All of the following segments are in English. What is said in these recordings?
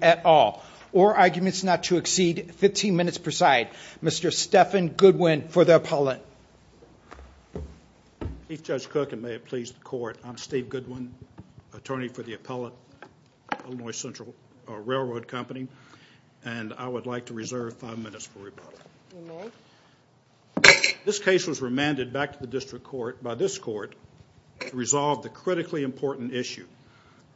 at all, or arguments not to exceed 15 minutes per side. Mr. Stephan Goodwin for the appellate. Chief Judge Cook, and may it please the Court, I'm Steve Goodwin, attorney for the appellate, Illinois Central Railroad Company, and I would like to reserve five minutes for rebuttal. This case was remanded back to the District Court by this Court to resolve the critically important issue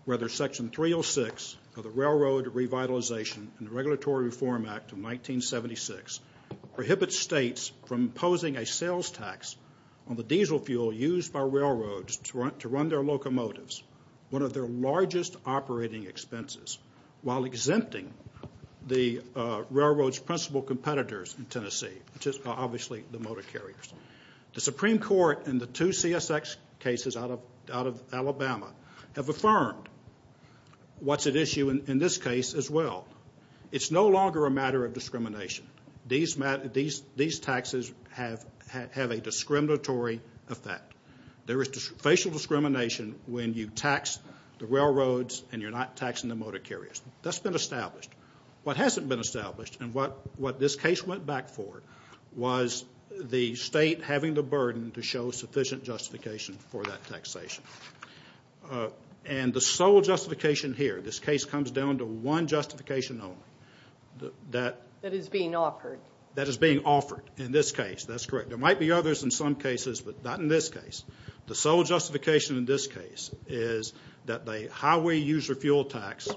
whether Section 306 of the Railroad Revitalization and Regulatory Reform Act of 1976 prohibits states from imposing a sales tax on the diesel fuel used by railroads to run their locomotives, one of their largest operating expenses, while exempting the railroad's principal competitors in Tennessee, which is obviously the motor carriers. The Supreme Court and the two CSX cases out of Alabama have affirmed what's at issue in this case as well. It's no longer a matter of discrimination. These taxes have a discriminatory effect. There is facial discrimination when you tax the railroads and you're not taxing the motor carriers. That's been established. What hasn't been established, and what this case went back for, was the state having the burden to show sufficient justification for that taxation. And the sole justification here, this case comes down to one justification only. That is being offered. That is being offered in this case. That's correct. There might be others in some cases, but not in this case. The sole justification in this case is that the highway user fuel tax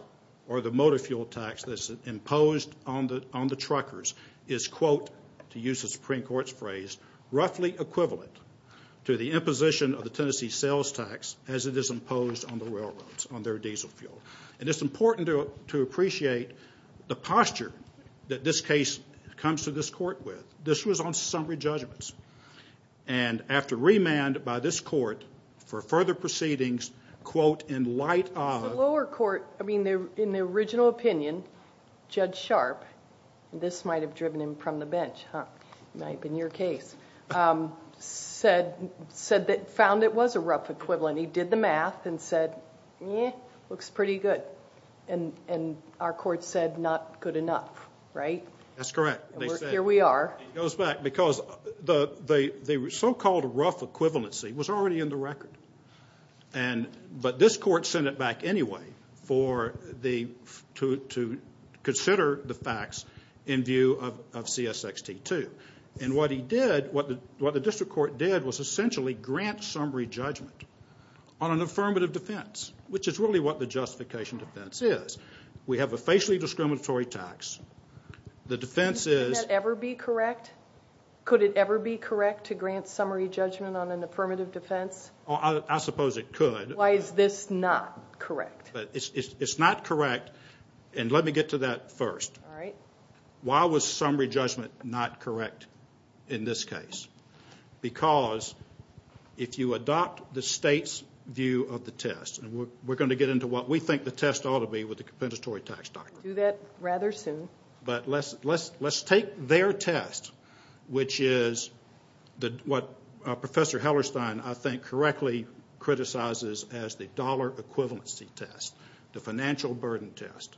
or the motor fuel tax that's imposed on the truckers is, quote, to use the Supreme Court's phrase, roughly equivalent to the imposition of the Tennessee sales tax as it is imposed on the railroads, on their diesel fuel. And it's important to appreciate the posture that this case comes to this court with. This was on summary judgments. And after remand by this court for further proceedings, quote, in light of- The lower court, I mean, in the original opinion, Judge Sharp, and this might have driven him from the bench, huh? Might have been your case, said that, found it was a rough equivalent. He did the math and said, eh, looks pretty good. And our court said, not good enough, right? That's correct. Here we are. It goes back because the so-called rough equivalency was already in the record. But this court sent it back anyway to consider the facts in view of CSX T2. And what the district court did was essentially grant summary judgment on an affirmative defense, which is really what the justification defense is. We have a facially discriminatory tax. The defense is- Could that ever be correct? Could it ever be correct to grant summary judgment on an affirmative defense? I suppose it could. Why is this not correct? It's not correct. And let me get to that first. All right. Why was summary judgment not correct in this case? Because if you adopt the state's view of the test, and we're going to get into what we think the test ought to be with the compensatory tax doctrine. We'll do that rather soon. But let's take their test, which is what Professor Hellerstein, I think, correctly criticizes as the dollar equivalency test, the financial burden test,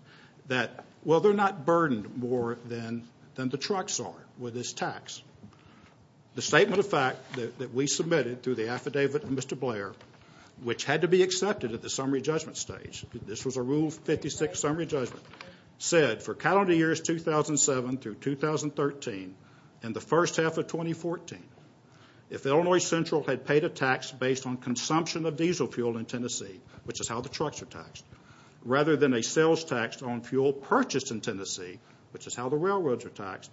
that, well, they're not burdened more than the trucks are with this tax. The statement of fact that we submitted through the affidavit of Mr. Blair, which had to be accepted at the summary judgment stage, this was a Rule 56 summary judgment, said for calendar years 2007 through 2013 and the first half of 2014, if Illinois Central had paid a tax based on consumption of diesel fuel in Tennessee, which is how the trucks are taxed, rather than a sales tax on fuel purchased in Tennessee, which is how the railroads are taxed,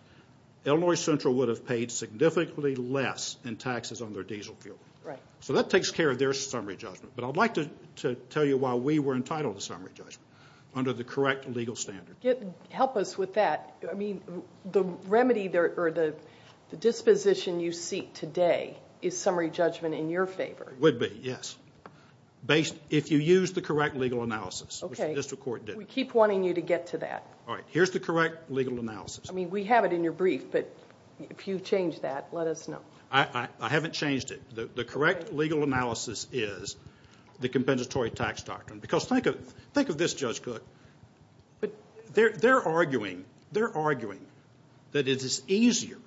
Illinois Central would have paid significantly less in taxes on their diesel fuel. So that takes care of their summary judgment. But I'd like to tell you why we were entitled to summary judgment, under the correct legal standard. Help us with that. I mean, the remedy or the disposition you seek today is summary judgment in your favor. It would be, yes. If you use the correct legal analysis, which the district court did. Okay. We keep wanting you to get to that. All right. Here's the correct legal analysis. I mean, we have it in your brief, but if you change that, let us know. I haven't changed it. The correct legal analysis is the compensatory tax doctrine. Because think of this, Judge Cook. They're arguing that it is easier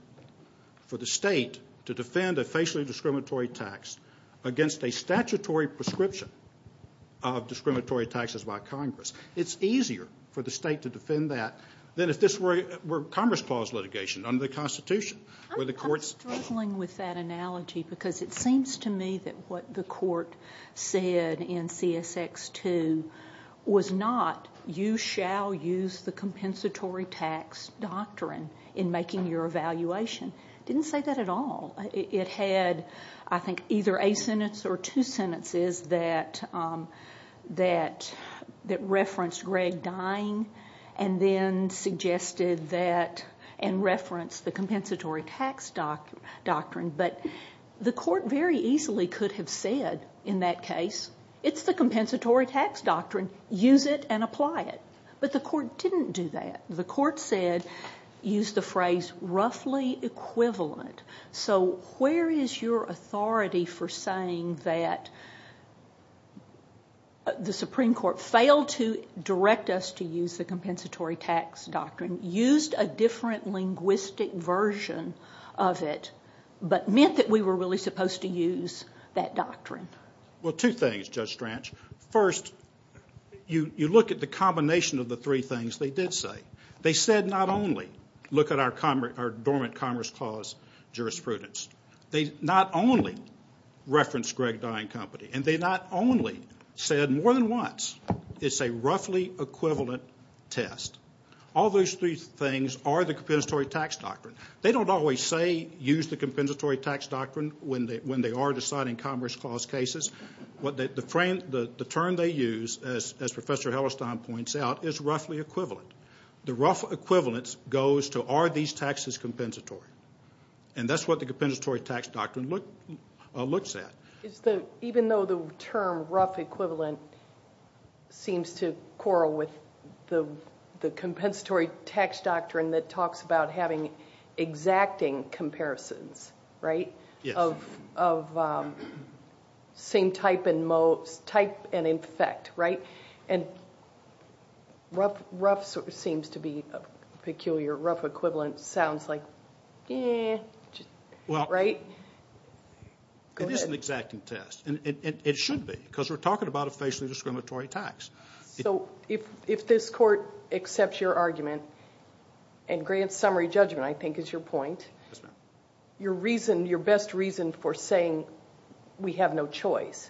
for the state to defend a facially discriminatory tax against a statutory prescription of discriminatory taxes by Congress. It's easier for the state to defend that than if this were a Commerce Clause litigation under the Constitution. I'm struggling with that analogy, because it seems to me that what the court said in CSX 2 was not, you shall use the compensatory tax doctrine in making your evaluation. It didn't say that at all. It had, I think, either a sentence or two sentences that referenced Greg dying and then suggested that and referenced the compensatory tax doctrine. But the court very easily could have said in that case, it's the compensatory tax doctrine, use it and apply it. But the court didn't do that. The court said, used the phrase, roughly equivalent. So where is your authority for saying that the Supreme Court failed to direct us to use the compensatory tax doctrine, used a different linguistic version of it, but meant that we were really supposed to use that doctrine? Well, two things, Judge Stranch. First, you look at the combination of the three things they did say. They said not only, look at our dormant Commerce Clause jurisprudence. They not only referenced Greg dying company, and they not only said more than once, it's a roughly equivalent test. All those three things are the compensatory tax doctrine. They don't always say, use the compensatory tax doctrine when they are deciding Commerce Clause cases. The term they use, as Professor Hellestine points out, is roughly equivalent. The rough equivalence goes to, are these taxes compensatory? And that's what the compensatory tax doctrine looks at. Even though the term rough equivalent seems to quarrel with the compensatory tax doctrine that talks about having exacting comparisons, right, of same type and effect, right? And rough seems to be peculiar. Rough equivalent sounds like, eh, right? It is an exacting test, and it should be, because we're talking about a facially discriminatory tax. So if this court accepts your argument, and grant summary judgment, I think, is your point, your reason, your best reason for saying we have no choice,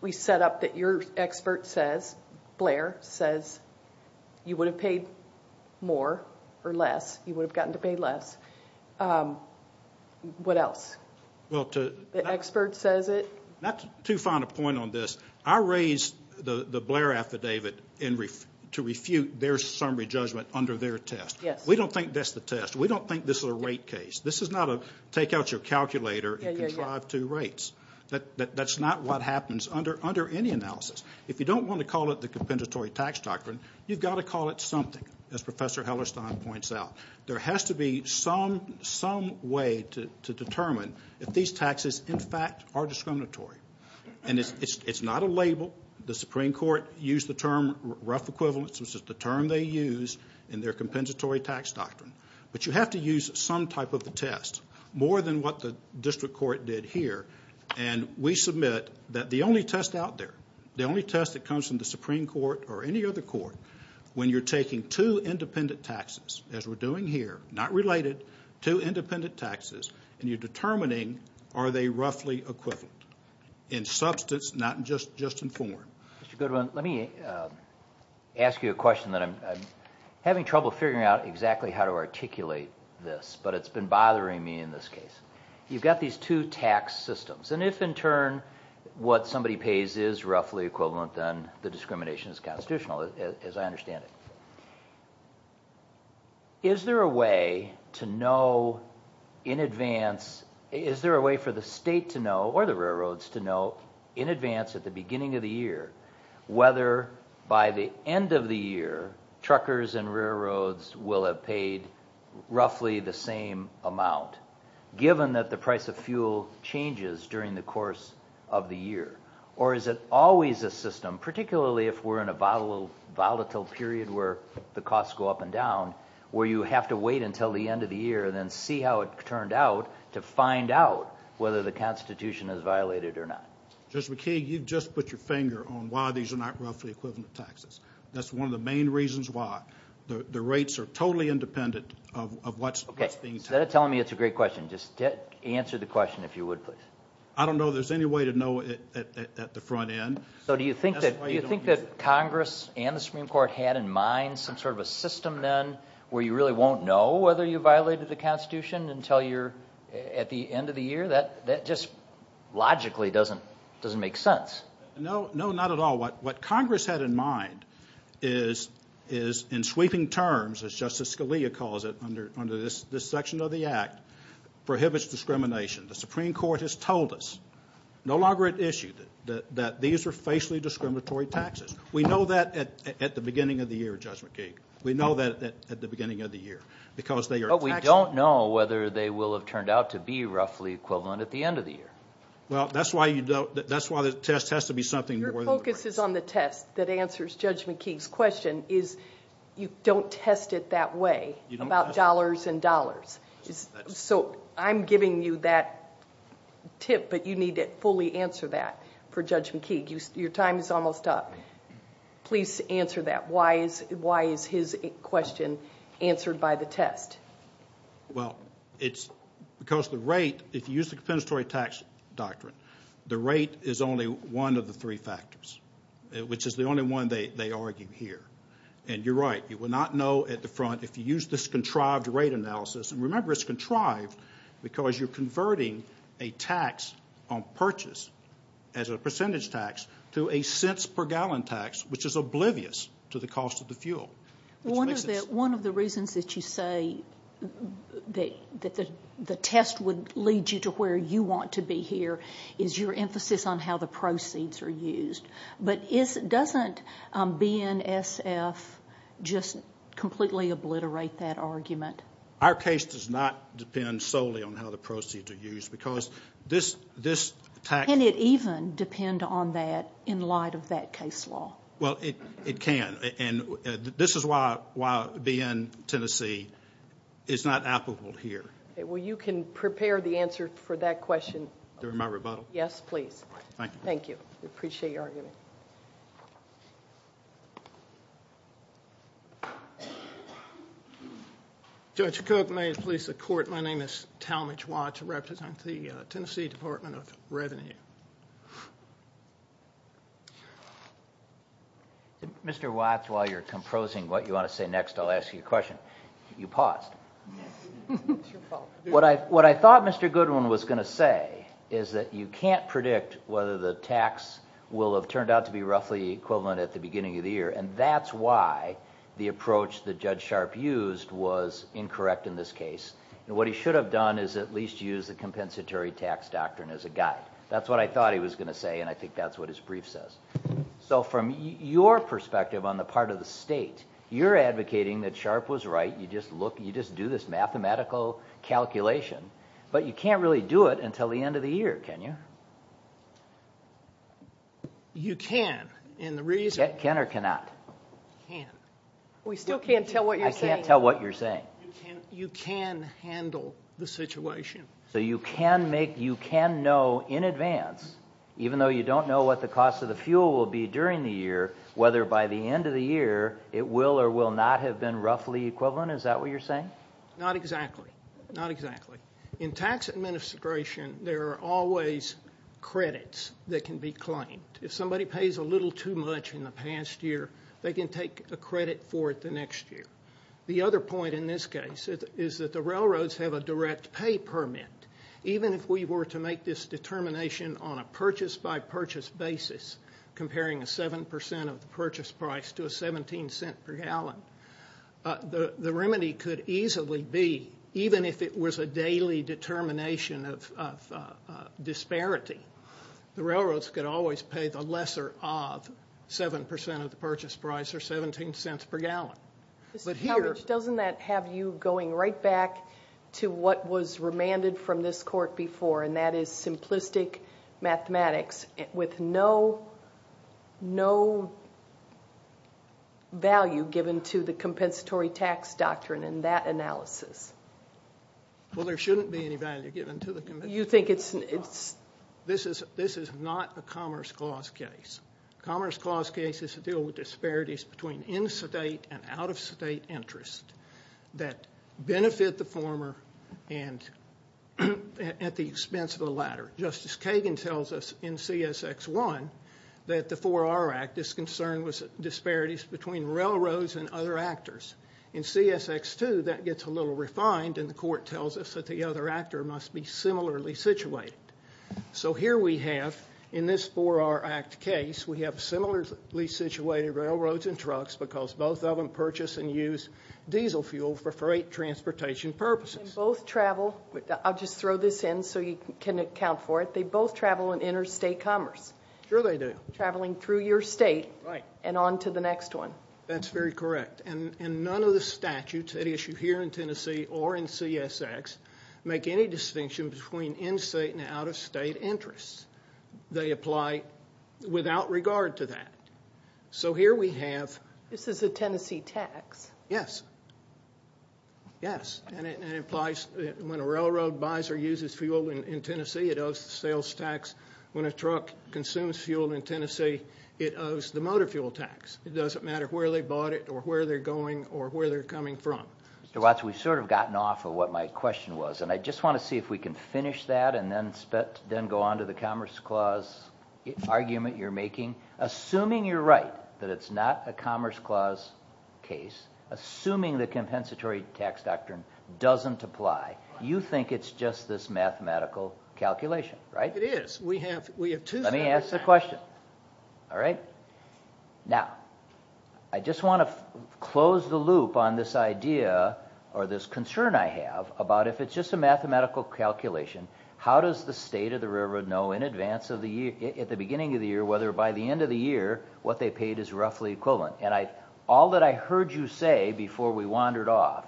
we set up that your expert says, Blair says, you would have paid more or less, you would have gotten to pay less. What else? The expert says it. Not too fond a point on this. I raised the Blair affidavit to refute their summary judgment under their test. We don't think that's the test. We don't think this is a rate case. This is not a take out your calculator and contrive two rates. That's not what happens under any analysis. If you don't want to call it the compensatory tax doctrine, you've got to call it something, as Professor Hellerstein points out. There has to be some way to determine if these taxes, in fact, are discriminatory. And it's not a label. The Supreme Court used the term rough equivalence, which is the term they use in their compensatory tax doctrine. But you have to use some type of a test, more than what the district court did here. And we submit that the only test out there, the only test that comes from the Supreme Court or any other court, when you're taking two independent taxes, as we're doing here, not related, two independent taxes, and you're determining are they roughly equivalent in substance, not just in form. Mr. Goodwin, let me ask you a question. I'm having trouble figuring out exactly how to articulate this, but it's been bothering me in this case. You've got these two tax systems. And if, in turn, what somebody pays is roughly equivalent, then the discrimination is constitutional, as I understand it. Is there a way for the state to know, or the railroads to know, in advance at the beginning of the year, whether by the end of the year, truckers and railroads will have paid roughly the same amount, given that the price of fuel changes during the course of the year? Or is it always a system, particularly if we're in a volatile period where the costs go up and down, where you have to wait until the end of the year and then see how it turned out to find out whether the Constitution is violated or not? Judge McKee, you've just put your finger on why these are not roughly equivalent taxes. That's one of the main reasons why. The rates are totally independent of what's being taxed. Instead of telling me it's a great question, just answer the question if you would, please. I don't know there's any way to know it at the front end. So do you think that Congress and the Supreme Court had in mind some sort of a system then where you really won't know whether you violated the Constitution until you're at the end of the year? That just logically doesn't make sense. No, not at all. What Congress had in mind is, in sweeping terms, as Justice Scalia calls it, under this section of the Act, prohibits discrimination. The Supreme Court has told us, no longer at issue, that these are facially discriminatory taxes. We know that at the beginning of the year, Judge McKee. We know that at the beginning of the year because they are taxable. But we don't know whether they will have turned out to be roughly equivalent at the end of the year. Well, that's why the test has to be something more than the rate. Your focus is on the test that answers Judge McKee's question, is you don't test it that way about dollars and dollars. So I'm giving you that tip, but you need to fully answer that for Judge McKee. Your time is almost up. Please answer that. Why is his question answered by the test? Well, it's because the rate, if you use the compensatory tax doctrine, the rate is only one of the three factors, which is the only one they argue here. And you're right. You will not know at the front, if you use this contrived rate analysis, and remember it's contrived because you're converting a tax on purchase as a percentage tax to a cents per gallon tax, which is oblivious to the cost of the fuel. One of the reasons that you say that the test would lead you to where you want to be here is your emphasis on how the proceeds are used. But doesn't BNSF just completely obliterate that argument? Our case does not depend solely on how the proceeds are used because this tax ---- Can it even depend on that in light of that case law? Well, it can. And this is why being in Tennessee is not applicable here. Well, you can prepare the answer for that question. During my rebuttal? Yes, please. Thank you. Thank you. We appreciate your argument. Judge Cook, may it please the Court, my name is Talmadge Watts. I represent the Tennessee Department of Revenue. Mr. Watts, while you're composing what you want to say next, I'll ask you a question. You paused. It's your fault. What I thought Mr. Goodwin was going to say is that you can't predict whether the tax will have turned out to be roughly equivalent at the beginning of the year, and that's why the approach that Judge Sharp used was incorrect in this case. What he should have done is at least used the compensatory tax doctrine as a guide. That's what I thought he was going to say, and I think that's what his brief says. So from your perspective on the part of the state, you're advocating that Sharp was right. You just do this mathematical calculation. But you can't really do it until the end of the year, can you? You can, and the reason ---- Can or cannot? Can. I can't tell what you're saying. You can handle the situation. So you can know in advance, even though you don't know what the cost of the fuel will be during the year, whether by the end of the year it will or will not have been roughly equivalent? Is that what you're saying? Not exactly. In tax administration, there are always credits that can be claimed. If somebody pays a little too much in the past year, they can take a credit for it the next year. The other point in this case is that the railroads have a direct pay permit. Even if we were to make this determination on a purchase-by-purchase basis, comparing a 7% of the purchase price to a $0.17 per gallon, the remedy could easily be, even if it was a daily determination of disparity, the railroads could always pay the lesser of 7% of the purchase price, or $0.17 per gallon. Mr. Kovach, doesn't that have you going right back to what was remanded from this court before, and that is simplistic mathematics with no value given to the compensatory tax doctrine in that analysis? Well, there shouldn't be any value given to the compensatory tax doctrine. This is not a Commerce Clause case. Commerce Clause cases deal with disparities between in-state and out-of-state interest that benefit the former at the expense of the latter. Justice Kagan tells us in CSX 1 that the 4R Act is concerned with disparities between railroads and other actors. In CSX 2, that gets a little refined, and the court tells us that the other actor must be similarly situated. So here we have, in this 4R Act case, we have similarly situated railroads and trucks because both of them purchase and use diesel fuel for freight transportation purposes. And both travel, I'll just throw this in so you can account for it, they both travel in interstate commerce. Sure they do. Traveling through your state and on to the next one. That's very correct, and none of the statutes at issue here in Tennessee or in CSX make any distinction between in-state and out-of-state interests. They apply without regard to that. So here we have... This is a Tennessee tax. Yes. Yes, and it implies when a railroad buys or uses fuel in Tennessee, it owes the sales tax. When a truck consumes fuel in Tennessee, it owes the motor fuel tax. It doesn't matter where they bought it or where they're going or where they're coming from. Mr. Watts, we've sort of gotten off of what my question was, and I just want to see if we can finish that and then go on to the Commerce Clause argument you're making. Assuming you're right that it's not a Commerce Clause case, assuming the compensatory tax doctrine doesn't apply, you think it's just this mathematical calculation, right? It is. We have two... Let me ask the question. All right? Now, I just want to close the loop on this idea or this concern I have about if it's just a mathematical calculation, how does the state of the railroad know in advance of the year, at the beginning of the year, whether by the end of the year what they paid is roughly equivalent? And all that I heard you say before we wandered off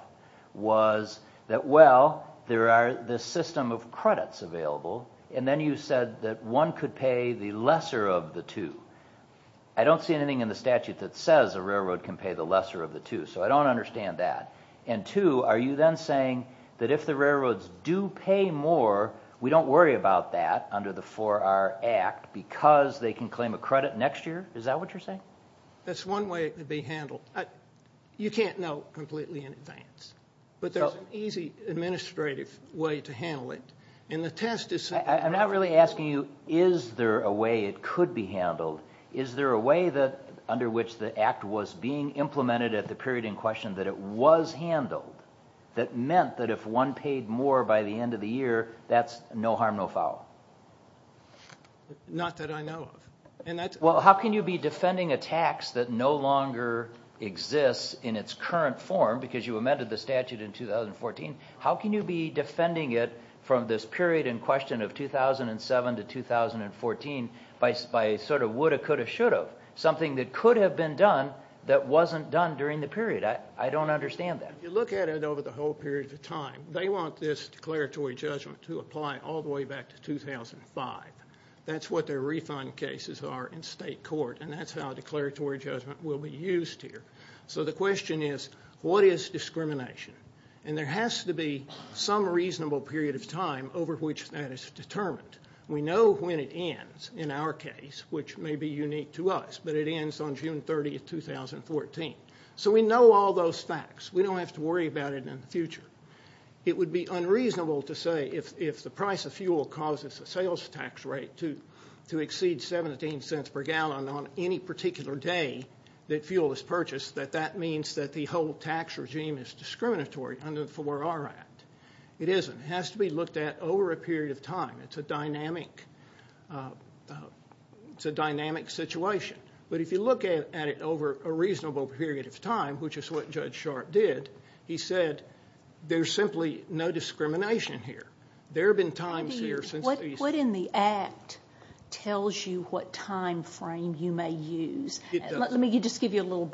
was that, well, there are this system of credits available, and then you said that one could pay the lesser of the two. I don't see anything in the statute that says a railroad can pay the lesser of the two, so I don't understand that. And two, are you then saying that if the railroads do pay more, we don't worry about that under the 4R Act because they can claim a credit next year? Is that what you're saying? That's one way it could be handled. You can't know completely in advance, but there's an easy administrative way to handle it, and the test is simply... I'm not really asking you is there a way it could be handled. Is there a way under which the Act was being implemented at the period in question that it was handled that meant that if one paid more by the end of the year, that's no harm, no foul? Not that I know of. Well, how can you be defending a tax that no longer exists in its current form, because you amended the statute in 2014, how can you be defending it from this period in question of 2007 to 2014 by a sort of woulda, coulda, shoulda, something that could have been done that wasn't done during the period? I don't understand that. If you look at it over the whole period of time, they want this declaratory judgment to apply all the way back to 2005. That's what their refund cases are in state court, and that's how declaratory judgment will be used here. So the question is, what is discrimination? And there has to be some reasonable period of time over which that is determined. We know when it ends in our case, which may be unique to us, but it ends on June 30, 2014. So we know all those facts. We don't have to worry about it in the future. It would be unreasonable to say if the price of fuel causes a sales tax rate to exceed 17 cents per gallon on any particular day that fuel is purchased, that that means that the whole tax regime is discriminatory under the 4R Act. It isn't. It has to be looked at over a period of time. It's a dynamic situation. But if you look at it over a reasonable period of time, which is what Judge Sharp did, he said there's simply no discrimination here. There have been times here since these. What in the Act tells you what time frame you may use? Let me just give you a little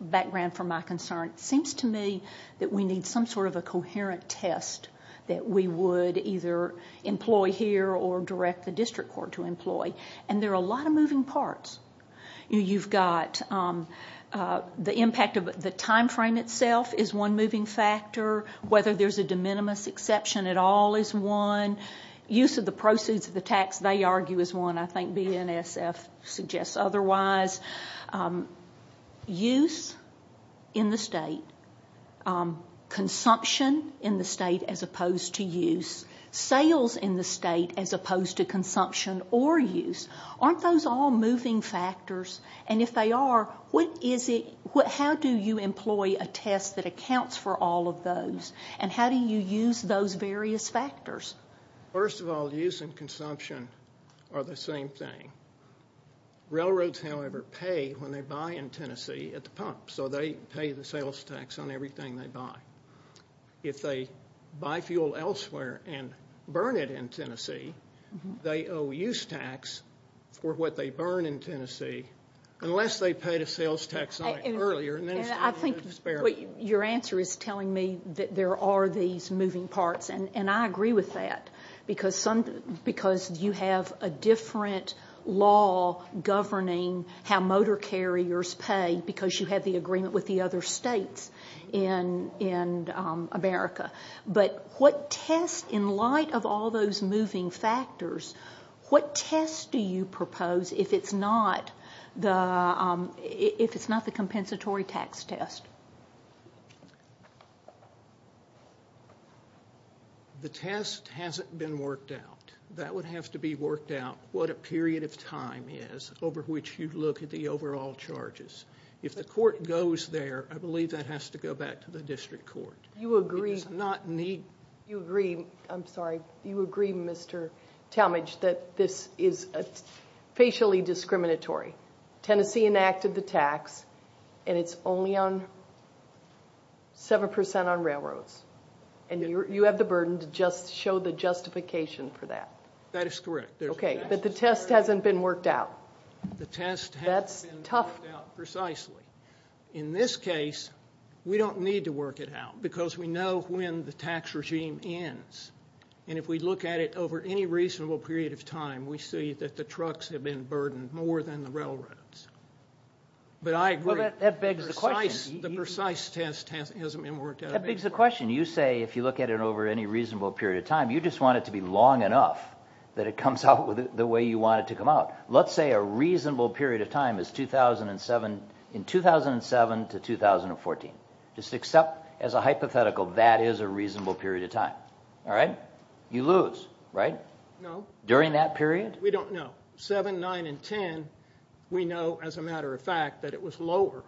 background for my concern. It seems to me that we need some sort of a coherent test that we would either employ here or direct the district court to employ, and there are a lot of moving parts. You've got the impact of the time frame itself is one moving factor. Whether there's a de minimis exception at all is one. Use of the proceeds of the tax, they argue, is one. I think BNSF suggests otherwise. Use in the state, consumption in the state as opposed to use, sales in the state as opposed to consumption or use, aren't those all moving factors? And if they are, how do you employ a test that accounts for all of those, and how do you use those various factors? First of all, use and consumption are the same thing. Railroads, however, pay when they buy in Tennessee at the pump, so they pay the sales tax on everything they buy. If they buy fuel elsewhere and burn it in Tennessee, they owe use tax for what they burn in Tennessee unless they pay the sales tax on it earlier. Your answer is telling me that there are these moving parts, and I agree with that because you have a different law governing how motor carriers pay because you have the agreement with the other states in America. But what test, in light of all those moving factors, what test do you propose if it's not the compensatory tax test? The test hasn't been worked out. That would have to be worked out what a period of time is over which you look at the overall charges. If the court goes there, I believe that has to go back to the district court. You agree, Mr. Talmadge, that this is facially discriminatory. Tennessee enacted the tax, and it's only 7% on railroads, and you have the burden to just show the justification for that. That is correct. Okay, but the test hasn't been worked out. The test hasn't been worked out precisely. In this case, we don't need to work it out because we know when the tax regime ends, and if we look at it over any reasonable period of time, we see that the trucks have been burdened more than the railroads. But I agree. Well, that begs the question. The precise test hasn't been worked out. That begs the question. You say if you look at it over any reasonable period of time, you just want it to be long enough that it comes out the way you want it to come out. Let's say a reasonable period of time is 2007 to 2014. Just accept, as a hypothetical, that is a reasonable period of time. All right? You lose, right? No. During that period? We don't know. Seven, nine, and ten, we know, as a matter of fact, that it was lower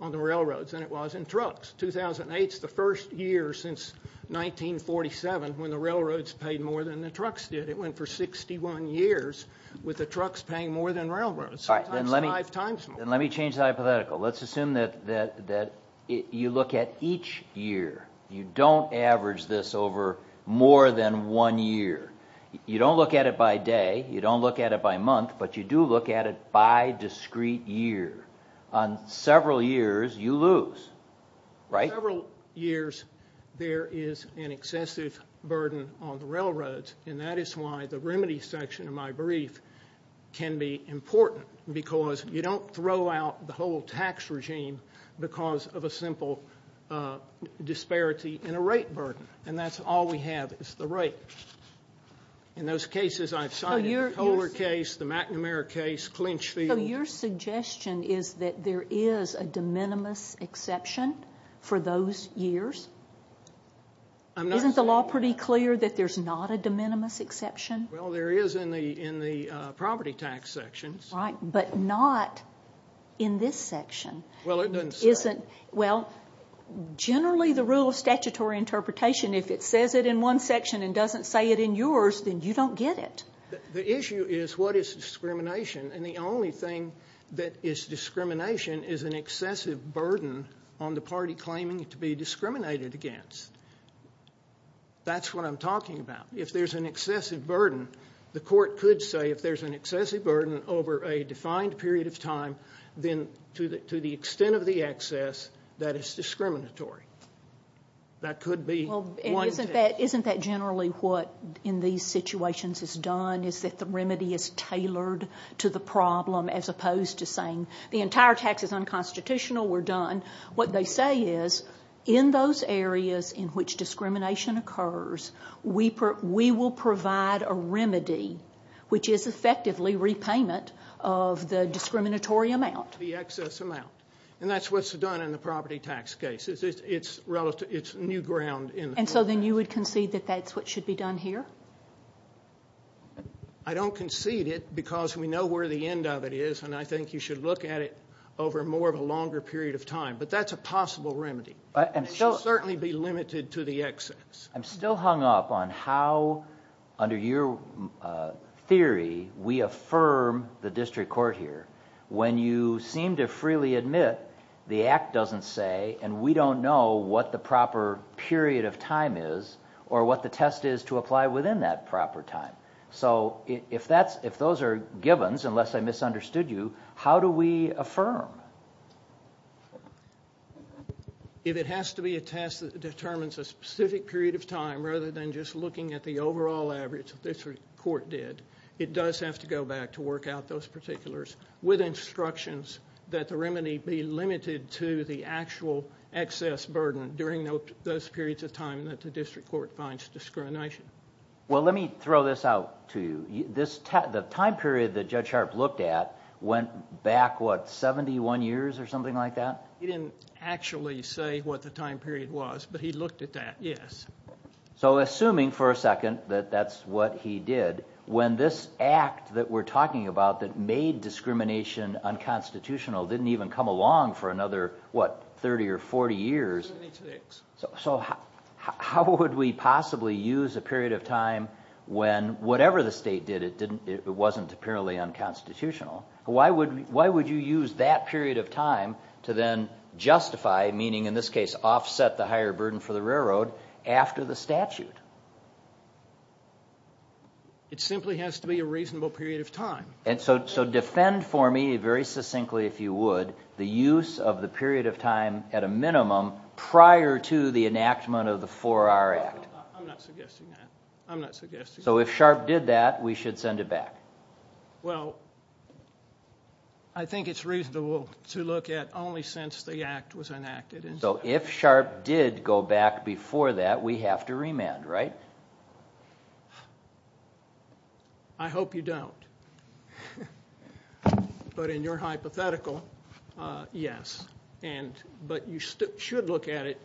on the railroads than it was in trucks. 2008 is the first year since 1947 when the railroads paid more than the trucks did. It went for 61 years with the trucks paying more than railroads. All right, then let me change the hypothetical. Let's assume that you look at each year. You don't average this over more than one year. You don't look at it by day. You don't look at it by month, but you do look at it by discrete year. On several years, you lose, right? On several years, there is an excessive burden on the railroads, and that is why the remedy section of my brief can be important because you don't throw out the whole tax regime because of a simple disparity in a rate burden, and that's all we have is the rate. In those cases I've cited, the Kohler case, the McNamara case, Clinchfield. So your suggestion is that there is a de minimis exception for those years? Isn't the law pretty clear that there's not a de minimis exception? Well, there is in the property tax sections. Right, but not in this section. Well, it doesn't say. Well, generally the rule of statutory interpretation, if it says it in one section and doesn't say it in yours, then you don't get it. The issue is what is discrimination, and the only thing that is discrimination is an excessive burden on the party claiming to be discriminated against. That's what I'm talking about. If there's an excessive burden, the court could say if there's an excessive burden over a defined period of time, then to the extent of the excess, that is discriminatory. That could be one test. Isn't that generally what in these situations is done, is that the remedy is tailored to the problem as opposed to saying the entire tax is unconstitutional, we're done? What they say is in those areas in which discrimination occurs, we will provide a remedy which is effectively repayment of the discriminatory amount. The excess amount. And that's what's done in the property tax case. It's new ground in the property tax case. And so then you would concede that that's what should be done here? I don't concede it because we know where the end of it is, and I think you should look at it over more of a longer period of time. But that's a possible remedy. It should certainly be limited to the excess. I'm still hung up on how under your theory we affirm the district court here when you seem to freely admit the Act doesn't say, and we don't know what the proper period of time is or what the test is to apply within that proper time. So if those are givens, unless I misunderstood you, how do we affirm? If it has to be a test that determines a specific period of time rather than just looking at the overall average that the district court did, it does have to go back to work out those particulars with instructions that the remedy be limited to the actual excess burden during those periods of time that the district court finds discrimination. Well, let me throw this out to you. The time period that Judge Sharp looked at went back, what, 71 years or something like that? He didn't actually say what the time period was, but he looked at that, yes. So assuming for a second that that's what he did, when this Act that we're talking about that made discrimination unconstitutional didn't even come along for another, what, 30 or 40 years, so how would we possibly use a period of time when whatever the state did, it wasn't apparently unconstitutional? Why would you use that period of time to then justify, meaning in this case, offset the higher burden for the railroad after the statute? It simply has to be a reasonable period of time. And so defend for me, very succinctly if you would, the use of the period of time at a minimum prior to the enactment of the 4R Act. I'm not suggesting that. I'm not suggesting that. So if Sharp did that, we should send it back? Well, I think it's reasonable to look at only since the Act was enacted. So if Sharp did go back before that, we have to remand, right? I hope you don't. But in your hypothetical, yes. But you should look at it.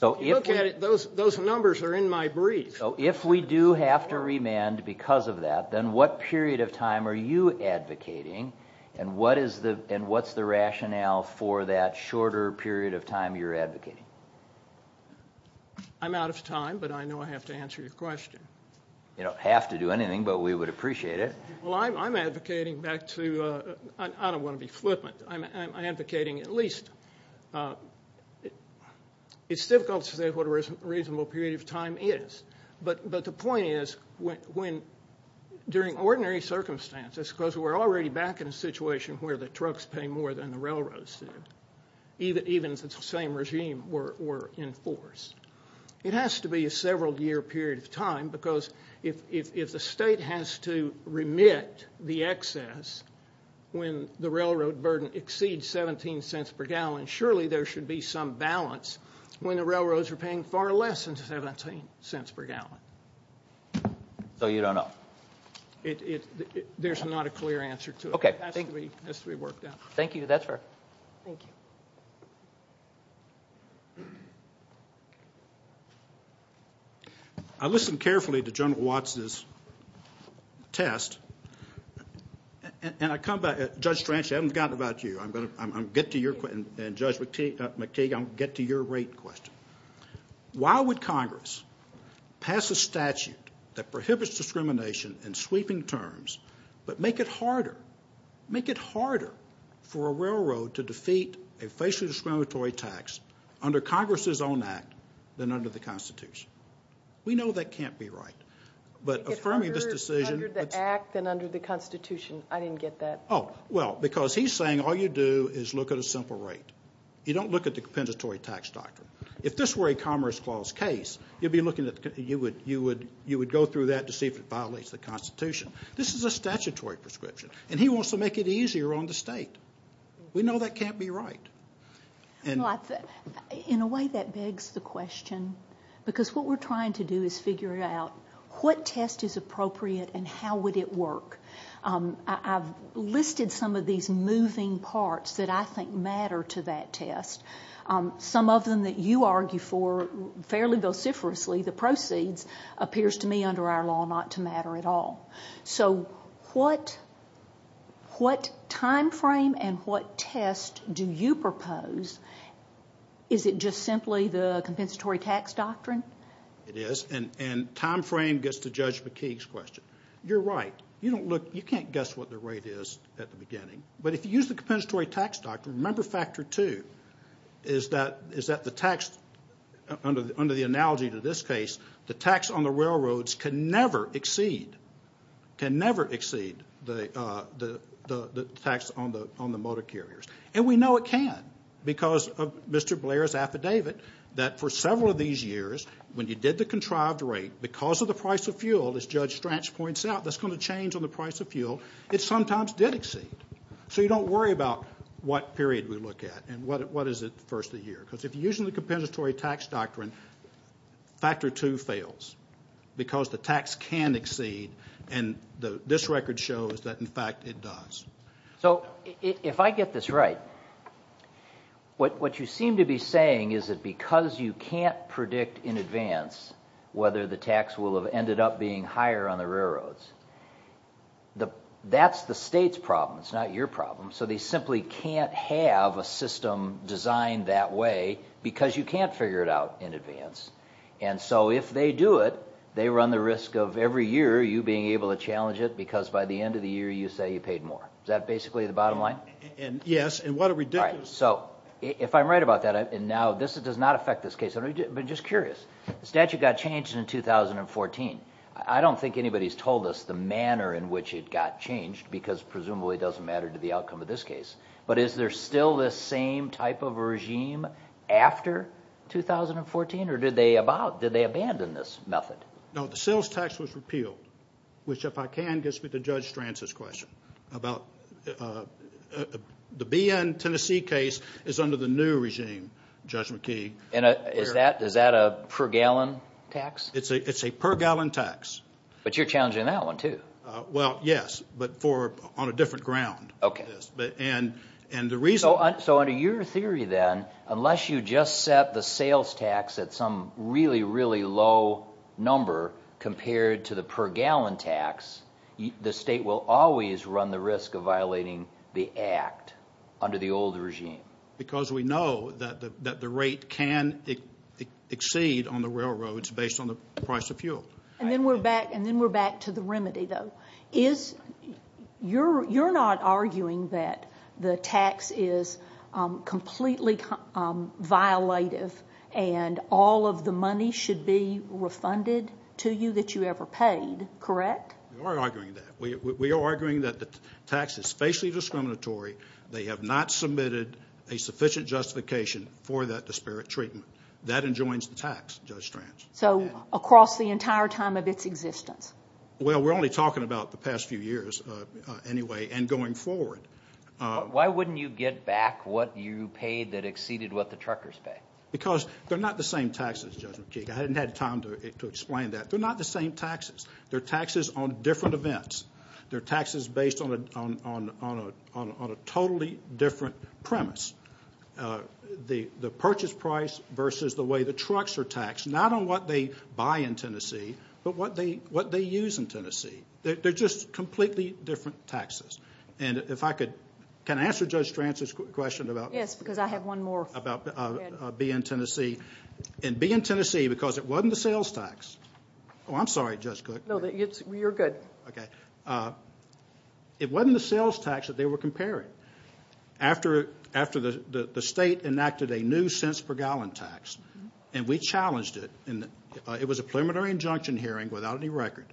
If you look at it, those numbers are in my brief. So if we do have to remand because of that, then what period of time are you advocating and what's the rationale for that shorter period of time you're advocating? I'm out of time, but I know I have to answer your question. You don't have to do anything, but we would appreciate it. Well, I'm advocating back to, I don't want to be flippant, I'm advocating at least, it's difficult to say what a reasonable period of time is. But the point is, during ordinary circumstances, because we're already back in a situation where the trucks pay more than the railroads do, even if it's the same regime we're in force. It has to be a several-year period of time because if the state has to remit the excess when the railroad burden exceeds 17 cents per gallon, surely there should be some balance when the railroads are paying far less than 17 cents per gallon. So you don't know? There's not a clear answer to it. It has to be worked out. Thank you, that's fair. Thank you. I listened carefully to General Watson's test, and I come back, Judge Strangely, I haven't forgotten about you, and Judge McTeague, I'm going to get to your rate question. Why would Congress pass a statute that prohibits discrimination in sweeping terms, but make it harder for a railroad to defeat a facially discriminatory tax under Congress's own act than under the Constitution? We know that can't be right. Make it under the act than under the Constitution. I didn't get that. Oh, well, because he's saying all you do is look at a simple rate. You don't look at the compensatory tax doctrine. If this were a Commerce Clause case, you would go through that to see if it violates the Constitution. This is a statutory prescription, and he wants to make it easier on the state. We know that can't be right. In a way, that begs the question, because what we're trying to do is figure out what test is appropriate and how would it work. I've listed some of these moving parts that I think matter to that test. Some of them that you argue for fairly vociferously, the proceeds, appears to me under our law not to matter at all. So what time frame and what test do you propose? Is it just simply the compensatory tax doctrine? It is, and time frame gets to Judge McTeague's question. You're right. You can't guess what the rate is at the beginning. But if you use the compensatory tax doctrine, remember factor two is that the tax, under the analogy to this case, the tax on the railroads can never exceed the tax on the motor carriers. And we know it can because of Mr. Blair's affidavit that for several of these years, when you did the contrived rate, because of the price of fuel, as Judge Strach points out, that's going to change on the price of fuel, it sometimes did exceed. So you don't worry about what period we look at and what is it the first of the year. Because if you're using the compensatory tax doctrine, factor two fails because the tax can exceed, and this record shows that, in fact, it does. So if I get this right, what you seem to be saying is that because you can't predict in advance whether the tax will have ended up being higher on the railroads, that's the state's problem. It's not your problem. So they simply can't have a system designed that way because you can't figure it out in advance. And so if they do it, they run the risk of every year you being able to challenge it because by the end of the year you say you paid more. Is that basically the bottom line? Yes. And what a ridiculous thing. So if I'm right about that, and now this does not affect this case. I'm just curious. The statute got changed in 2014. I don't think anybody's told us the manner in which it got changed because presumably it doesn't matter to the outcome of this case. But is there still this same type of regime after 2014, or did they abandon this method? No, the sales tax was repealed, which, if I can, gets me to Judge Stranz's question. The BN Tennessee case is under the new regime, Judge McKee. Is that a per-gallon tax? It's a per-gallon tax. But you're challenging that one too. Well, yes, but on a different ground. So under your theory then, unless you just set the sales tax at some really, really low number compared to the per-gallon tax, the state will always run the risk of violating the act under the old regime. Because we know that the rate can exceed on the railroads based on the price of fuel. And then we're back to the remedy, though. You're not arguing that the tax is completely violative and all of the money should be refunded to you that you ever paid, correct? We are arguing that. We are arguing that the tax is facially discriminatory. They have not submitted a sufficient justification for that disparate treatment. That enjoins the tax, Judge Stranz. So across the entire time of its existence? Well, we're only talking about the past few years anyway and going forward. Why wouldn't you get back what you paid that exceeded what the truckers pay? Because they're not the same taxes, Judge McKee. I hadn't had time to explain that. They're not the same taxes. They're taxes on different events. They're taxes based on a totally different premise. The purchase price versus the way the trucks are taxed, not on what they buy in Tennessee, but what they use in Tennessee. They're just completely different taxes. And if I could, can I answer Judge Stranz's question about? Yes, because I have one more. About being in Tennessee. And being in Tennessee because it wasn't a sales tax. Oh, I'm sorry, Judge Cook. No, you're good. Okay. It wasn't a sales tax that they were comparing. After the state enacted a new cents per gallon tax, and we challenged it. It was a preliminary injunction hearing without any record.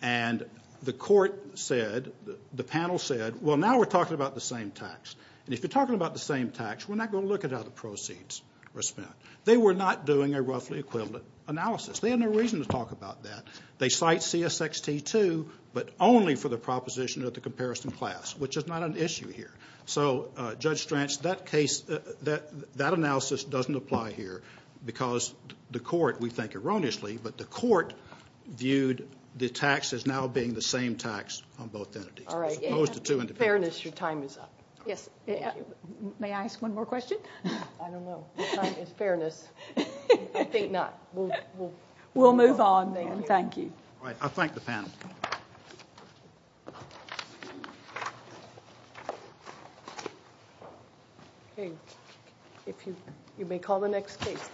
And the court said, the panel said, well, now we're talking about the same tax. And if you're talking about the same tax, we're not going to look at how the proceeds were spent. They were not doing a roughly equivalent analysis. They had no reason to talk about that. They cite CSXT, too, but only for the proposition of the comparison class, which is not an issue here. So, Judge Stranz, that analysis doesn't apply here because the court, we think erroneously, but the court viewed the tax as now being the same tax on both entities. All right. In fairness, your time is up. Yes. May I ask one more question? I don't know. In fairness, I think not. We'll move on then. Okay. Thank you. All right. I'll thank the panel. Okay. You may call the next case.